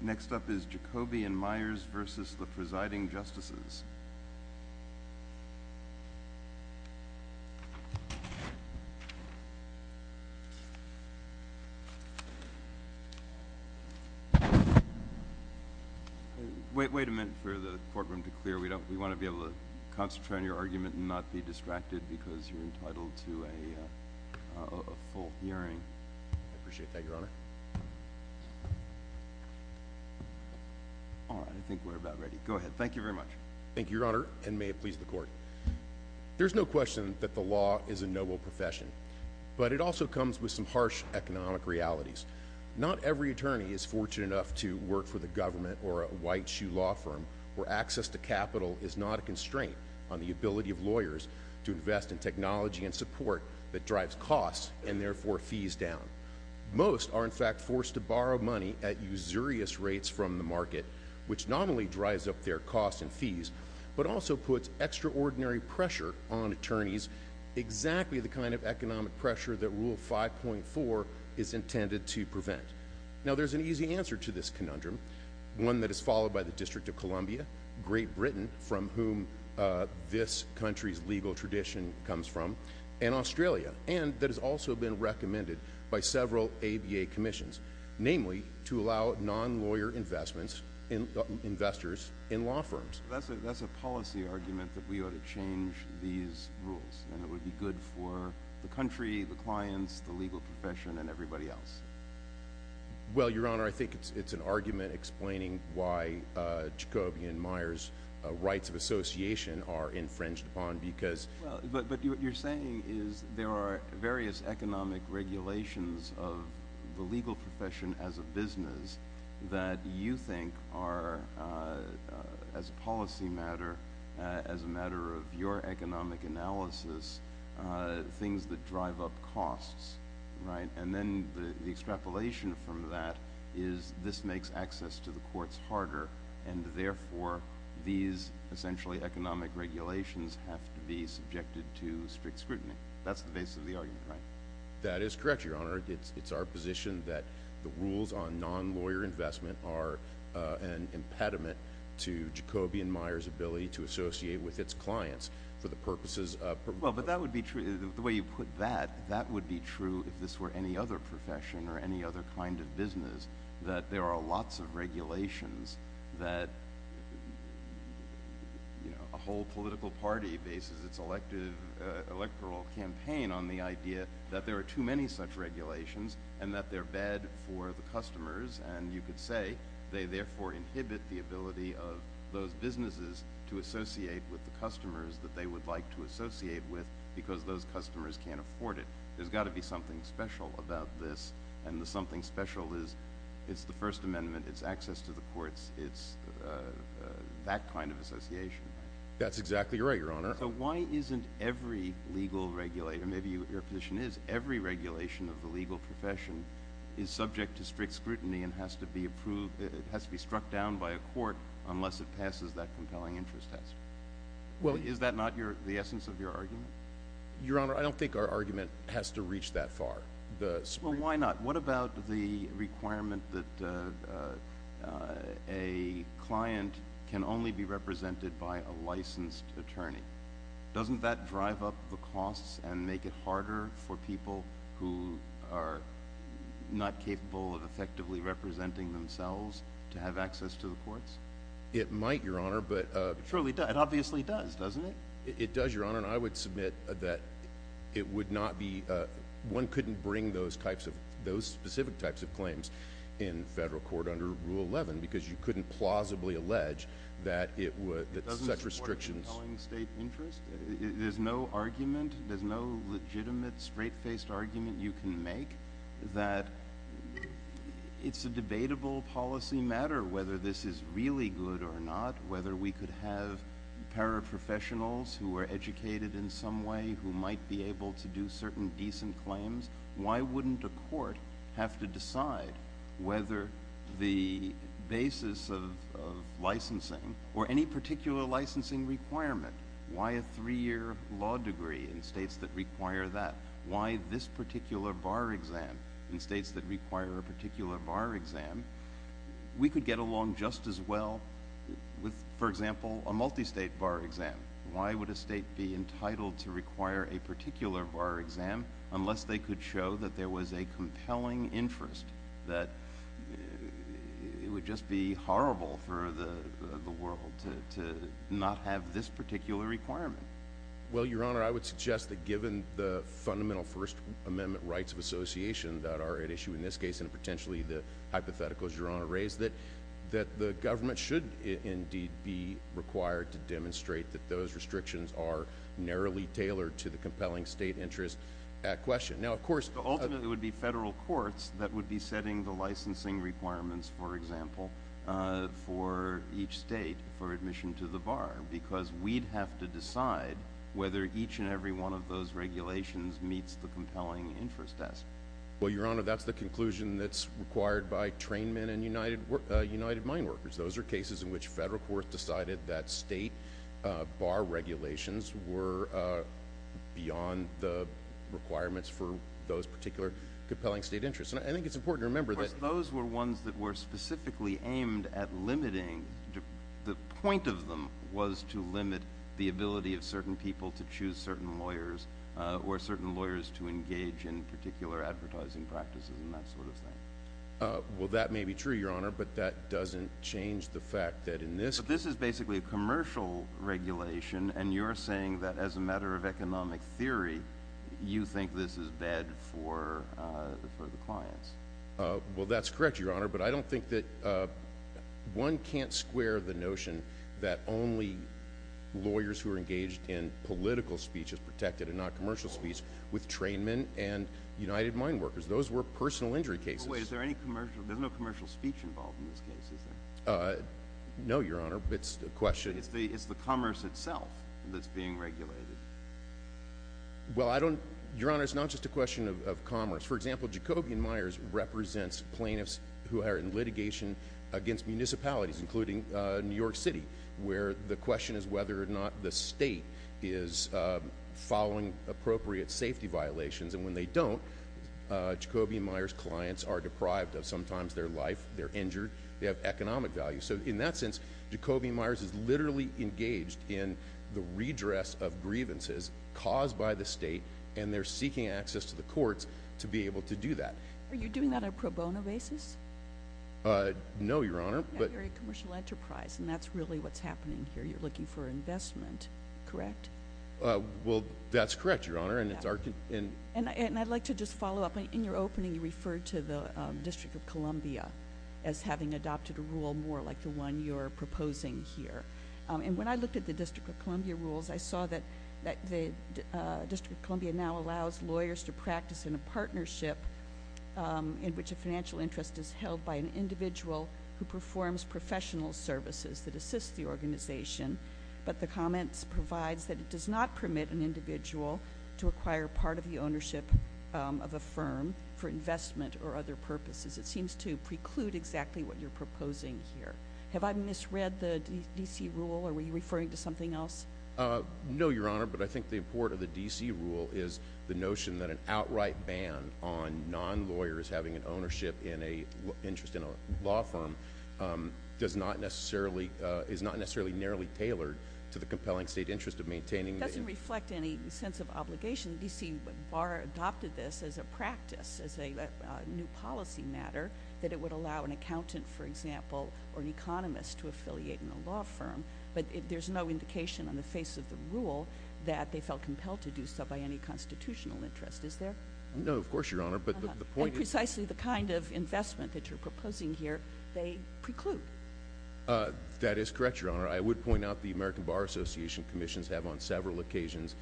Next up is Jacoby & Meyers v. The Presiding Justices. Wait a minute for the courtroom to clear. We want to be able to concentrate on your argument and not be distracted because you're entitled to a full hearing. I appreciate that, Your Honor. All right, I think we're about ready. Go ahead. Thank you very much. Thank you, Your Honor, and may it please the Court. There's no question that the law is a noble profession, but it also comes with some harsh economic realities. Not every attorney is fortunate enough to work for the government or a white-shoe law firm, where access to capital is not a constraint on the ability of lawyers to invest in technology and support that drives costs and, therefore, fees down. Most are, in fact, forced to borrow money at usurious rates from the market, which not only drives up their costs and fees, but also puts extraordinary pressure on attorneys, exactly the kind of economic pressure that Rule 5.4 is intended to prevent. Now, there's an easy answer to this conundrum, one that is followed by the District of Columbia, Great Britain, from whom this country's legal tradition comes from, and Australia, and that has also been recommended by several ABA commissions, namely, to allow non-lawyer investments, investors in law firms. That's a policy argument that we ought to change these rules, and it would be good for the country, the clients, the legal profession, and everybody else. Well, Your Honor, I think it's an argument explaining why Jacobian Meyers' rights of association are infringed upon because— But what you're saying is there are various economic regulations of the legal profession as a business that you think are, as a policy matter, as a matter of your economic analysis, things that drive up costs, right? And then the extrapolation from that is this makes access to the courts harder, and therefore, these, essentially, economic regulations have to be subjected to strict scrutiny. That's the basis of the argument, right? That is correct, Your Honor. It's our position that the rules on non-lawyer investment are an impediment to Jacobian Meyers' ability to associate with its clients for the purposes— Well, but that would be true—the way you put that, that would be true if this were any other profession or any other kind of business, that there are lots of regulations that, you know, a whole political party bases its electoral campaign on the idea that there are too many such regulations and that they're bad for the customers, and you could say they, therefore, inhibit the ability of those businesses to associate with the customers that they would like to associate with because those customers can't afford it. There's got to be something special about this, and the something special is it's the First Amendment, it's access to the courts, it's that kind of association. That's exactly right, Your Honor. So why isn't every legal—or maybe your position is every regulation of the legal profession is subject to strict scrutiny and has to be approved—has to be struck down by a court unless it passes that compelling interest test? Well— Is that not the essence of your argument? Your Honor, I don't think our argument has to reach that far. Well, why not? What about the requirement that a client can only be represented by a licensed attorney? Doesn't that drive up the costs and make it harder for people who are not capable of effectively representing themselves to have access to the courts? It might, Your Honor, but— It surely does. It obviously does, doesn't it? It does, Your Honor, and I would submit that it would not be—one couldn't bring those specific types of claims in federal court under Rule 11 because you couldn't plausibly allege that such restrictions— It doesn't support a compelling state interest? There's no argument—there's no legitimate, straight-faced argument you can make that it's a debatable policy matter whether this is really good or not, whether we could have paraprofessionals who are educated in some way who might be able to do certain decent claims. Why wouldn't a court have to decide whether the basis of licensing or any particular licensing requirement—why a three-year law degree in states that require that, why this particular bar exam in states that require a particular bar exam—we could get along just as well with, for example, a multistate bar exam. Why would a state be entitled to require a particular bar exam unless they could show that there was a compelling interest that it would just be horrible for the world to not have this particular requirement? Well, Your Honor, I would suggest that given the fundamental First Amendment rights of association that are at issue in this case and potentially the hypotheticals Your Honor raised, that the government should indeed be required to demonstrate that those restrictions are narrowly tailored to the compelling state interest at question. Ultimately, it would be federal courts that would be setting the licensing requirements, for example, for each state for admission to the bar, because we'd have to decide whether each and every one of those regulations meets the compelling interest test. Well, Your Honor, that's the conclusion that's required by trainmen and United Mine Workers. Those are cases in which federal courts decided that state bar regulations were beyond the requirements for those particular compelling state interests. And I think it's important to remember that— The point of them was to limit the ability of certain people to choose certain lawyers or certain lawyers to engage in particular advertising practices and that sort of thing. Well, that may be true, Your Honor, but that doesn't change the fact that in this— But this is basically a commercial regulation, and you're saying that as a matter of economic theory, you think this is bad for the clients. Well, that's correct, Your Honor, but I don't think that—one can't square the notion that only lawyers who are engaged in political speech is protected and not commercial speech with trainmen and United Mine Workers. Those were personal injury cases. Wait, is there any commercial—there's no commercial speech involved in this case, is there? No, Your Honor. It's a question— It's the commerce itself that's being regulated. Well, I don't—Your Honor, it's not just a question of commerce. For example, Jacobian Myers represents plaintiffs who are in litigation against municipalities, including New York City, where the question is whether or not the state is following appropriate safety violations. And when they don't, Jacobian Myers clients are deprived of sometimes their life. They're injured. They have economic value. So in that sense, Jacobian Myers is literally engaged in the redress of grievances caused by the state, and they're seeking access to the courts to be able to do that. Are you doing that on a pro bono basis? No, Your Honor, but— You're a commercial enterprise, and that's really what's happening here. You're looking for investment, correct? Well, that's correct, Your Honor, and it's our— And I'd like to just follow up. In your opening, you referred to the District of Columbia as having adopted a rule more like the one you're proposing here. And when I looked at the District of Columbia rules, I saw that the District of Columbia now allows lawyers to practice in a partnership in which a financial interest is held by an individual who performs professional services that assist the organization, but the comments provides that it does not permit an individual to acquire part of the ownership of a firm for investment or other purposes. It seems to preclude exactly what you're proposing here. Have I misread the D.C. rule, or were you referring to something else? No, Your Honor, but I think the import of the D.C. rule is the notion that an outright ban on non-lawyers having an ownership in an interest in a law firm is not necessarily narrowly tailored to the compelling state interest of maintaining— It doesn't reflect any sense of obligation. D.C. adopted this as a practice, as a new policy matter, that it would allow an accountant, for example, or an economist to affiliate in a law firm. But there's no indication on the face of the rule that they felt compelled to do so by any constitutional interest, is there? No, of course, Your Honor, but the point is— And precisely the kind of investment that you're proposing here, they preclude. That is correct, Your Honor. I would point out the American Bar Association commissions have on several occasions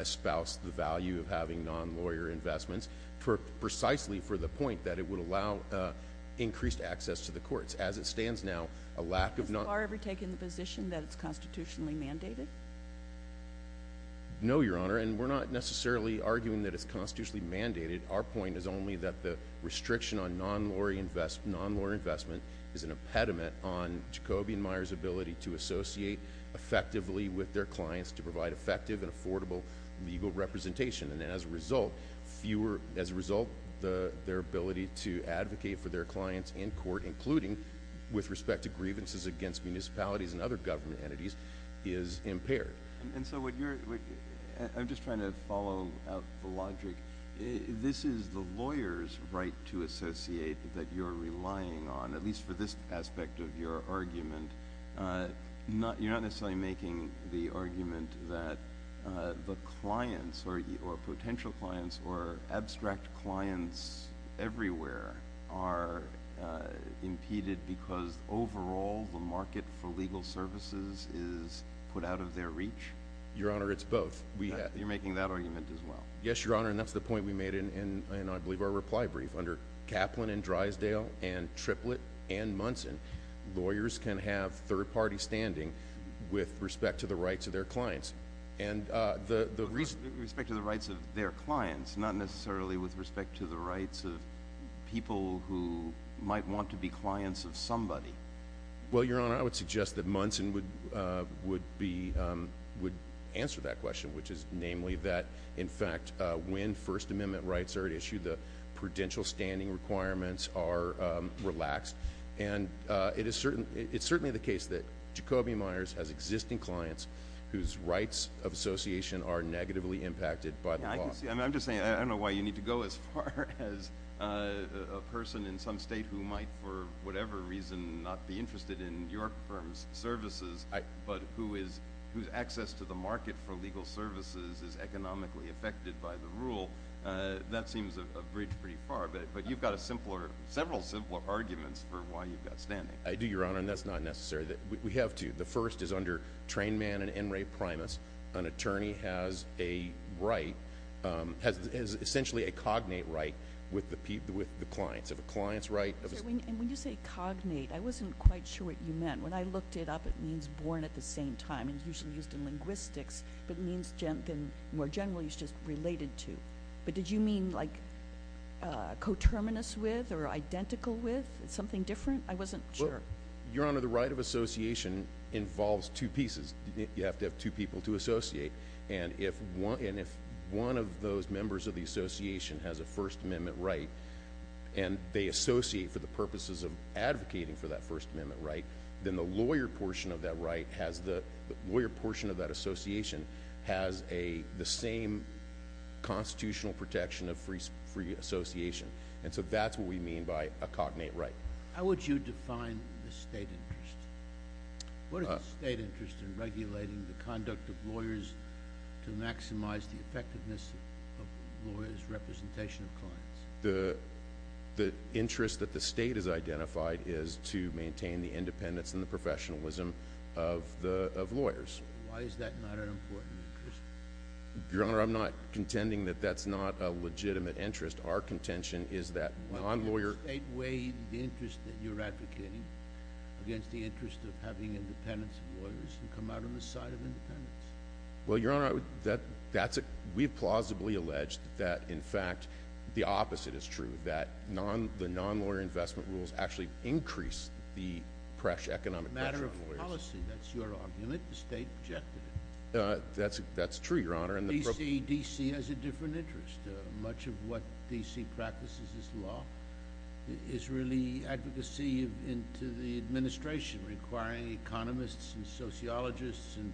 espoused the value of having non-lawyer investments precisely for the point that it would allow increased access to the courts. As it stands now, a lack of non— Has the bar ever taken the position that it's constitutionally mandated? No, Your Honor, and we're not necessarily arguing that it's constitutionally mandated. Our point is only that the restriction on non-lawyer investment is an impediment on Jacoby and Meyer's ability to associate effectively with their clients to provide effective and affordable legal representation. And as a result, their ability to advocate for their clients in court, including with respect to grievances against municipalities and other government entities, is impaired. And so what you're—I'm just trying to follow up the logic. This is the lawyer's right to associate that you're relying on, at least for this aspect of your argument. You're not necessarily making the argument that the clients or potential clients or abstract clients everywhere are impeded because overall the market for legal services is put out of their reach? Your Honor, it's both. Yes, Your Honor, and that's the point we made in, I believe, our reply brief. Under Kaplan and Drysdale and Triplett and Munson, lawyers can have third-party standing with respect to the rights of their clients. With respect to the rights of their clients, not necessarily with respect to the rights of people who might want to be clients of somebody. Well, Your Honor, I would suggest that Munson would answer that question, which is namely that, in fact, when First Amendment rights are at issue, the prudential standing requirements are relaxed. And it's certainly the case that Jacobi Myers has existing clients whose rights of association are negatively impacted by the law. I'm just saying I don't know why you need to go as far as a person in some state who might, for whatever reason, not be interested in your firm's services, but whose access to the market for legal services is economically affected by the rule. That seems a bridge pretty far, but you've got several simpler arguments for why you've got standing. I do, Your Honor, and that's not necessary. We have two. The first is under Trainman and Enri Primus. An attorney has a right, has essentially a cognate right with the clients. If a client's right- And when you say cognate, I wasn't quite sure what you meant. When I looked it up, it means born at the same time. It's usually used in linguistics, but more generally, it's just related to. But did you mean, like, coterminous with or identical with? Something different? I wasn't sure. Your Honor, the right of association involves two pieces. You have to have two people to associate. And if one of those members of the association has a First Amendment right and they associate for the purposes of advocating for that First Amendment right, then the lawyer portion of that association has the same constitutional protection of free association. And so that's what we mean by a cognate right. How would you define the state interest? What is the state interest in regulating the conduct of lawyers to maximize the effectiveness of lawyers' representation of clients? The interest that the state has identified is to maintain the independence and the professionalism of lawyers. Why is that not an important interest? Your Honor, I'm not contending that that's not a legitimate interest. Our contention is that non-lawyer- Does the state weigh the interest that you're advocating against the interest of having independence lawyers come out on the side of independence? Well, Your Honor, we have plausibly alleged that, in fact, the opposite is true, that the non-lawyer investment rules actually increase the economic pressure on lawyers. Matter of policy. That's your argument. The state objected to it. That's true, Your Honor. D.C. has a different interest. Much of what D.C. practices as law is really advocacy into the administration, requiring economists and sociologists and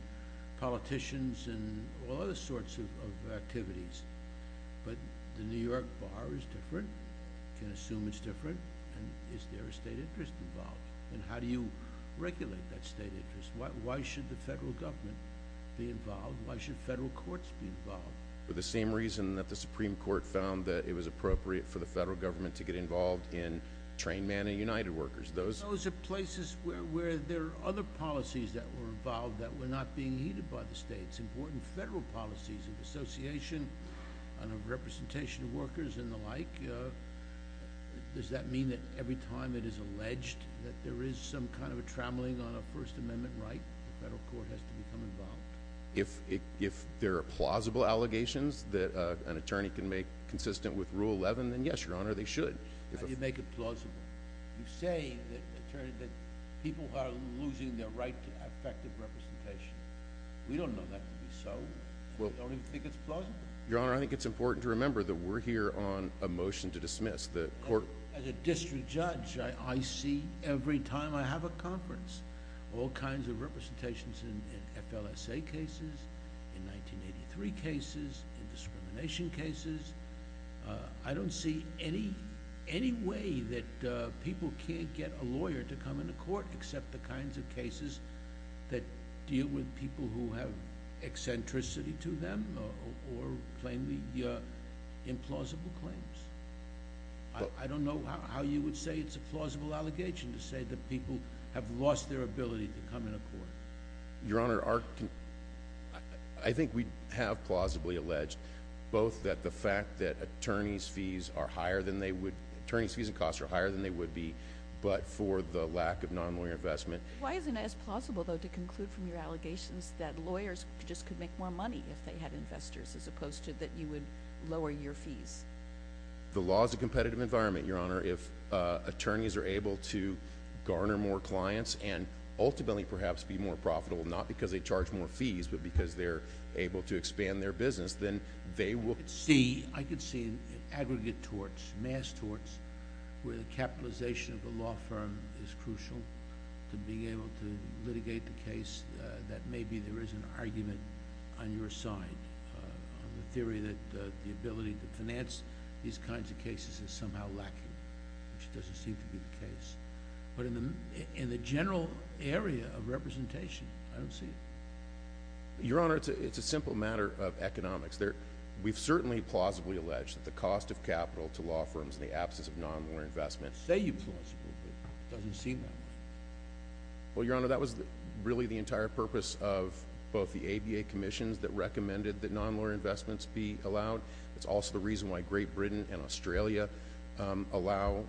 politicians and all other sorts of activities. But the New York bar is different. You can assume it's different. And is there a state interest involved? And how do you regulate that state interest? Why should the federal government be involved? Why should federal courts be involved? For the same reason that the Supreme Court found that it was appropriate for the federal government to get involved in trained men and United Workers. Those are places where there are other policies that were involved that were not being heeded by the states. Important federal policies of association and of representation of workers and the like. Does that mean that every time it is alleged that there is some kind of a trampling on a First Amendment right, the federal court has to become involved? If there are plausible allegations that an attorney can make consistent with Rule 11, then yes, Your Honor, they should. How do you make it plausible? You say that people are losing their right to effective representation. We don't know that to be so. We don't even think it's plausible. Your Honor, I think it's important to remember that we're here on a motion to dismiss. As a district judge, I see every time I have a conference all kinds of representations in FLSA cases, in 1983 cases, in discrimination cases. I don't see any way that people can't get a lawyer to come into court except the kinds of cases that deal with people who have eccentricity to them or plainly implausible claims. I don't know how you would say it's a plausible allegation to say that people have lost their ability to come into court. Your Honor, I think we have plausibly alleged both that the fact that attorney's fees and costs are higher than they would be, but for the lack of non-lawyer investment. Why isn't it as plausible, though, to conclude from your allegations that lawyers just could make more money if they had investors as opposed to that you would lower your fees? The law is a competitive environment, Your Honor. If attorneys are able to garner more clients and ultimately perhaps be more profitable, not because they charge more fees, but because they're able to expand their business, then they will— I could see aggregate torts, mass torts, where the capitalization of the law firm is crucial to being able to litigate the case that maybe there is an argument on your side on the theory that the ability to finance these kinds of cases is somehow lacking, which doesn't seem to be the case. But in the general area of representation, I don't see it. Your Honor, it's a simple matter of economics. We've certainly plausibly alleged that the cost of capital to law firms in the absence of non-lawyer investment— Say you plausibly, but it doesn't seem that way. Well, Your Honor, that was really the entire purpose of both the ABA commissions that recommended that non-lawyer investments be allowed. It's also the reason why Great Britain and Australia allow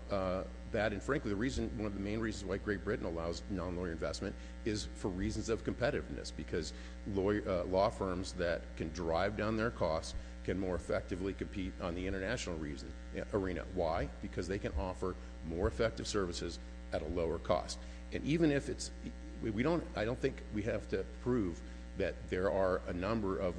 that. And frankly, one of the main reasons why Great Britain allows non-lawyer investment is for reasons of competitiveness, because law firms that can drive down their costs can more effectively compete on the international arena. Why? Because they can offer more effective services at a lower cost. I don't think we have to prove that there are a number of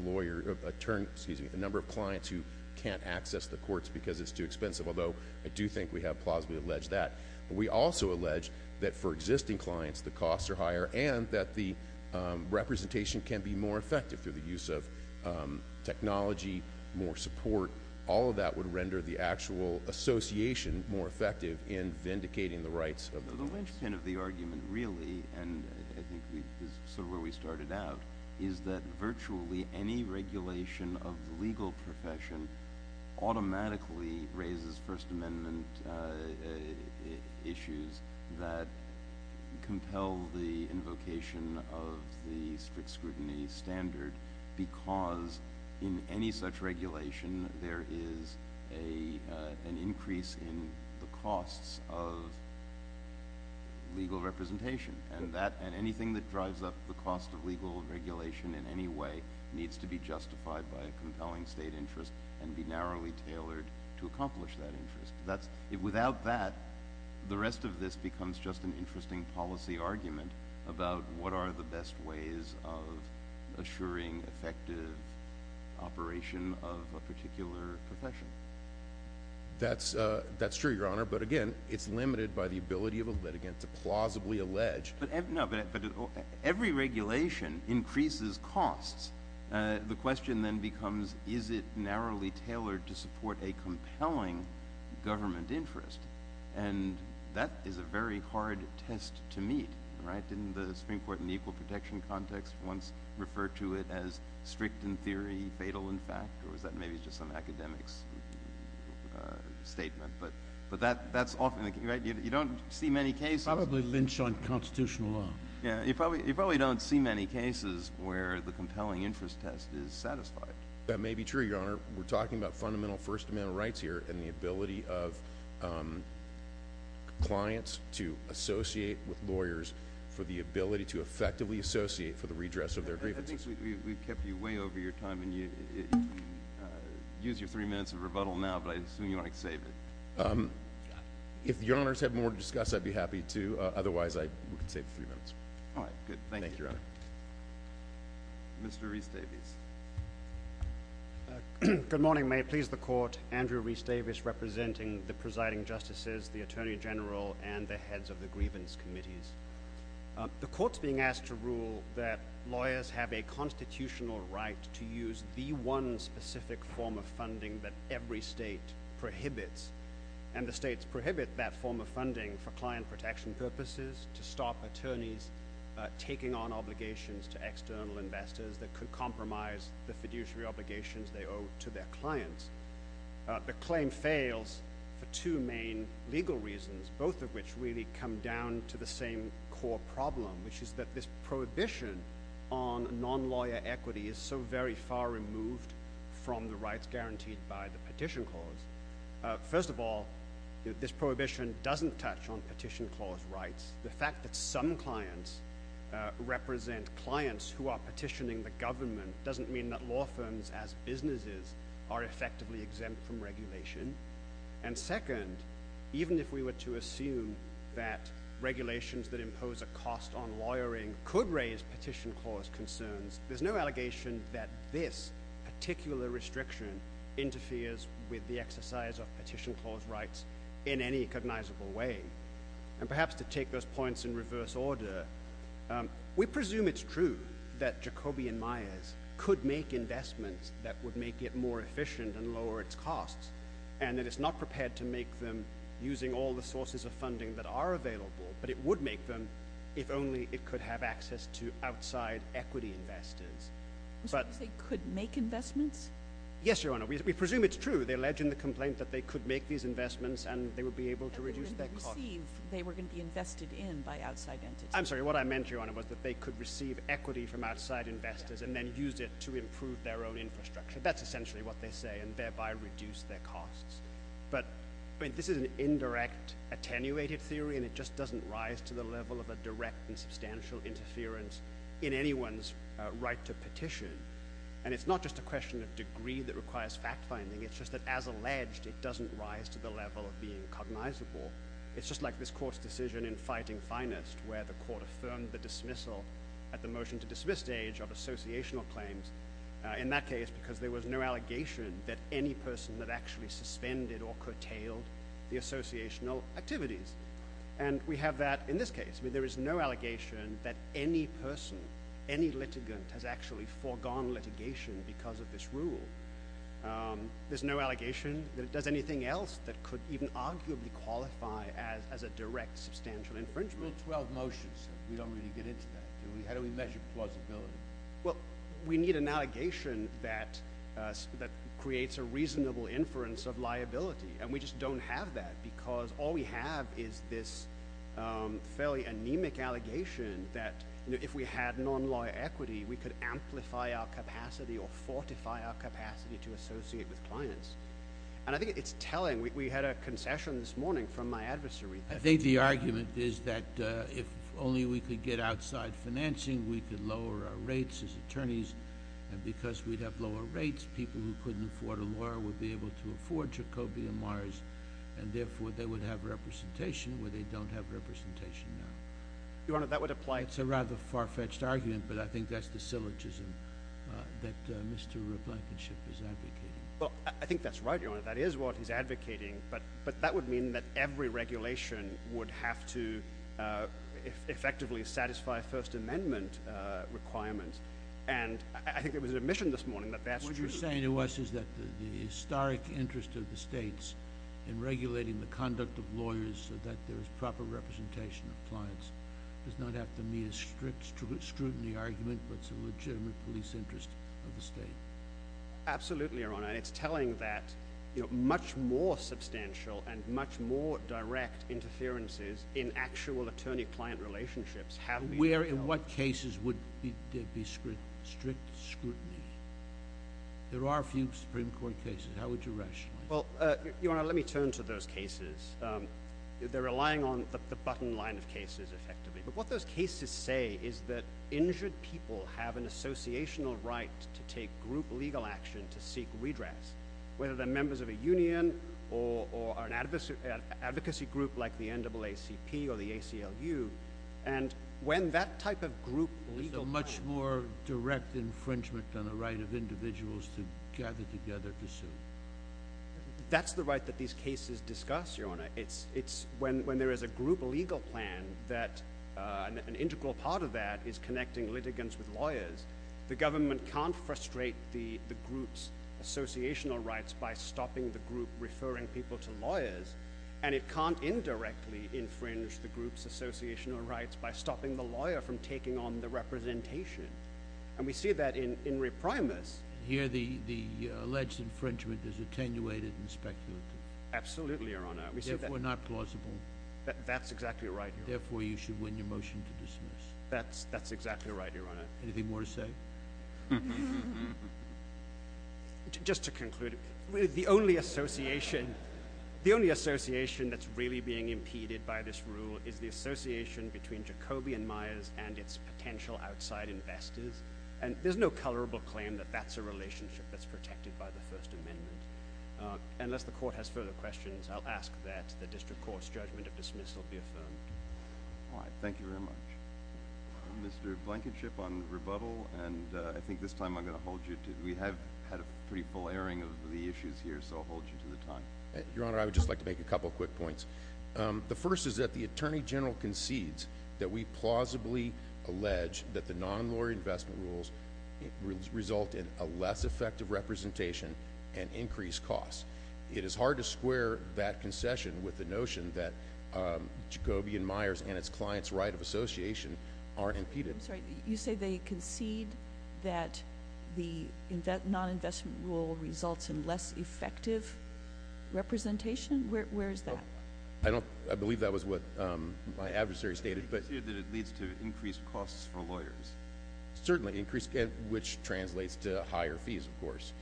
clients who can't access the courts because it's too expensive, although I do think we have plausibly alleged that. But we also allege that for existing clients, the costs are higher and that the representation can be more effective through the use of technology, more support. All of that would render the actual association more effective in vindicating the rights of the law. So the linchpin of the argument, really, and I think this is sort of where we started out, is that virtually any regulation of the legal profession automatically raises First Amendment issues that compel the invocation of the strict scrutiny standard, because in any such regulation, there is an increase in the costs of legal representation. And anything that drives up the cost of legal regulation in any way needs to be justified by a compelling state interest and be narrowly tailored to accomplish that interest. Without that, the rest of this becomes just an interesting policy argument about what are the best ways of assuring effective operation of a particular profession. That's true, Your Honor, but again, it's limited by the ability of a litigant to plausibly allege. No, but every regulation increases costs. The question then becomes, is it narrowly tailored to support a compelling government interest? And that is a very hard test to meet, right? Didn't the Supreme Court in the equal protection context once refer to it as strict in theory, fatal in fact? Or is that maybe just some academics' statement? But that's often the case, right? You don't see many cases – You probably lynch on constitutional law. Yeah, you probably don't see many cases where the compelling interest test is satisfied. That may be true, Your Honor. We're talking about fundamental first-amendment rights here and the ability of clients to associate with lawyers for the ability to effectively associate for the redress of their grievances. We've kept you way over your time, and you can use your three minutes of rebuttal now, but I assume you want to save it. If Your Honors have more to discuss, I'd be happy to. Otherwise, we can save the three minutes. All right, good. Thank you, Your Honor. Mr. Rees-Davies. Good morning. May it please the Court, Andrew Rees-Davies representing the presiding justices, the Attorney General, and the heads of the grievance committees. The Court's being asked to rule that lawyers have a constitutional right to use the one specific form of funding that every state prohibits. And the states prohibit that form of funding for client protection purposes to stop attorneys taking on obligations to external investors that could compromise the fiduciary obligations they owe to their clients. The claim fails for two main legal reasons, both of which really come down to the same core problem, which is that this prohibition on non-lawyer equity is so very far removed from the rights guaranteed by the Petition Clause. First of all, this prohibition doesn't touch on Petition Clause rights. The fact that some clients represent clients who are petitioning the government doesn't mean that law firms as businesses are effectively exempt from regulation. And second, even if we were to assume that regulations that impose a cost on lawyering could raise Petition Clause concerns, there's no allegation that this particular restriction interferes with the exercise of Petition Clause rights in any cognizable way. And perhaps to take those points in reverse order, we presume it's true that Jacobian Myers could make investments that would make it more efficient and lower its costs, and that it's not prepared to make them using all the sources of funding that are available, but it would make them if only it could have access to outside equity investors. So you say could make investments? Yes, Your Honor. We presume it's true. They allege in the complaint that they could make these investments and they would be able to reduce their costs. But when they receive, they were going to be invested in by outside entities. I'm sorry. What I meant, Your Honor, was that they could receive equity from outside investors and then use it to improve their own infrastructure. That's essentially what they say, and thereby reduce their costs. But this is an indirect, attenuated theory, and it just doesn't rise to the level of a direct and substantial interference in anyone's right to petition. And it's not just a question of degree that requires fact-finding. It's just that, as alleged, it doesn't rise to the level of being cognizable. It's just like this court's decision in Fighting Finest where the court affirmed the dismissal at the motion-to-dismiss stage of associational claims. In that case, because there was no allegation that any person had actually suspended or curtailed the associational activities. And we have that in this case. There is no allegation that any person, any litigant, has actually foregone litigation because of this rule. There's no allegation that it does anything else that could even arguably qualify as a direct substantial infringement. Rule 12 motions. We don't really get into that. How do we measure plausibility? Well, we need an allegation that creates a reasonable inference of liability. And we just don't have that because all we have is this fairly anemic allegation that if we had non-lawyer equity, we could amplify our capacity or fortify our capacity to associate with clients. And I think it's telling. We had a concession this morning from my adversary. I think the argument is that if only we could get outside financing, we could lower our rates as attorneys. And because we'd have lower rates, people who couldn't afford a lawyer would be able to afford Jacoby and Mars. And therefore, they would have representation where they don't have representation now. Your Honor, that would apply. It's a rather far-fetched argument, but I think that's the syllogism that Mr. Replacenship is advocating. Well, I think that's right, Your Honor. That is what he's advocating. But that would mean that every regulation would have to effectively satisfy First Amendment requirements. And I think it was admission this morning that that's true. What you're saying to us is that the historic interest of the states in regulating the conduct of lawyers so that there is proper representation of clients does not have to meet a strict scrutiny argument, but it's a legitimate police interest of the state. Absolutely, Your Honor. And it's telling that much more substantial and much more direct interferences in actual attorney-client relationships have been held. In what cases would there be strict scrutiny? There are a few Supreme Court cases. How would you rationalize that? Well, Your Honor, let me turn to those cases. They're relying on the button line of cases, effectively. But what those cases say is that injured people have an associational right to take group legal action to seek redress, whether they're members of a union or an advocacy group like the NAACP or the ACLU. And when that type of group legal plan— There's a much more direct infringement on the right of individuals to gather together to sue. That's the right that these cases discuss, Your Honor. It's when there is a group legal plan that an integral part of that is connecting litigants with lawyers. The government can't frustrate the group's associational rights by stopping the group referring people to lawyers, and it can't indirectly infringe the group's associational rights by stopping the lawyer from taking on the representation. And we see that in reprimis. Here the alleged infringement is attenuated and speculative. Absolutely, Your Honor. Therefore, not plausible. That's exactly right, Your Honor. Therefore, you should win your motion to dismiss. That's exactly right, Your Honor. Anything more to say? Just to conclude, the only association that's really being impeded by this rule is the association between Jacoby and Myers and its potential outside investors. And there's no colorable claim that that's a relationship that's protected by the First Amendment. Unless the court has further questions, I'll ask that the district court's judgment of dismissal be affirmed. All right. Thank you very much. Mr. Blankenship on rebuttal, and I think this time I'm going to hold you to it. We have had a pretty full airing of the issues here, so I'll hold you to the time. Your Honor, I would just like to make a couple of quick points. The first is that the Attorney General concedes that we plausibly allege that the non-lawyer investment rules result in a less effective representation and increased costs. It is hard to square that concession with the notion that Jacoby and Myers and its client's right of association aren't impeded. I'm sorry. You say they concede that the non-investment rule results in less effective representation? Where is that? I believe that was what my adversary stated. He conceded that it leads to increased costs for lawyers. Certainly, which translates to higher fees, of course.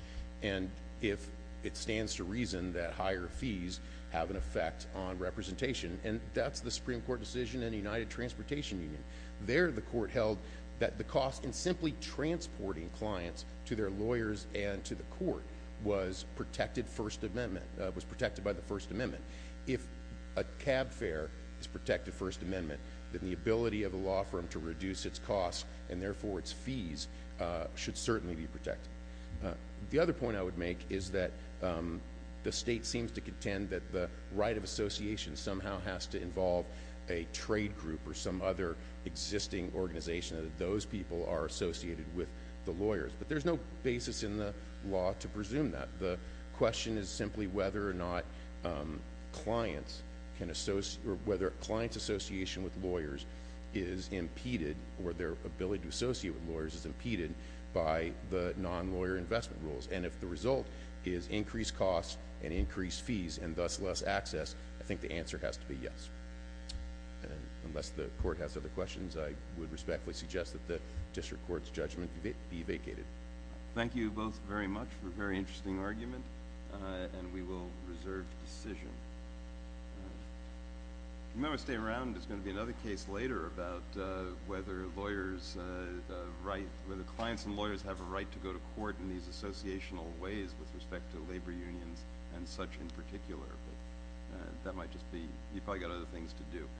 And if it stands to reason that higher fees have an effect on representation, and that's the Supreme Court decision in the United Transportation Union. There, the court held that the cost in simply transporting clients to their lawyers and to the court was protected by the First Amendment. If a cab fare is protected First Amendment, then the ability of a law firm to reduce its costs, and therefore its fees, should certainly be protected. The other point I would make is that the state seems to contend that the right of association somehow has to involve a trade group or some other existing organization that those people are associated with the lawyers. But there's no basis in the law to presume that. The question is simply whether or not clients association with lawyers is impeded or their ability to associate with lawyers is impeded by the non-lawyer investment rules. And if the result is increased costs and increased fees and thus less access, I think the answer has to be yes. Unless the court has other questions, I would respectfully suggest that the district court's judgment be vacated. Thank you both very much for a very interesting argument, and we will reserve the decision. You might want to stay around. There's going to be another case later about whether clients and lawyers have a right to go to court in these associational ways with respect to labor unions and such in particular. But that might just be – you've probably got other things to do.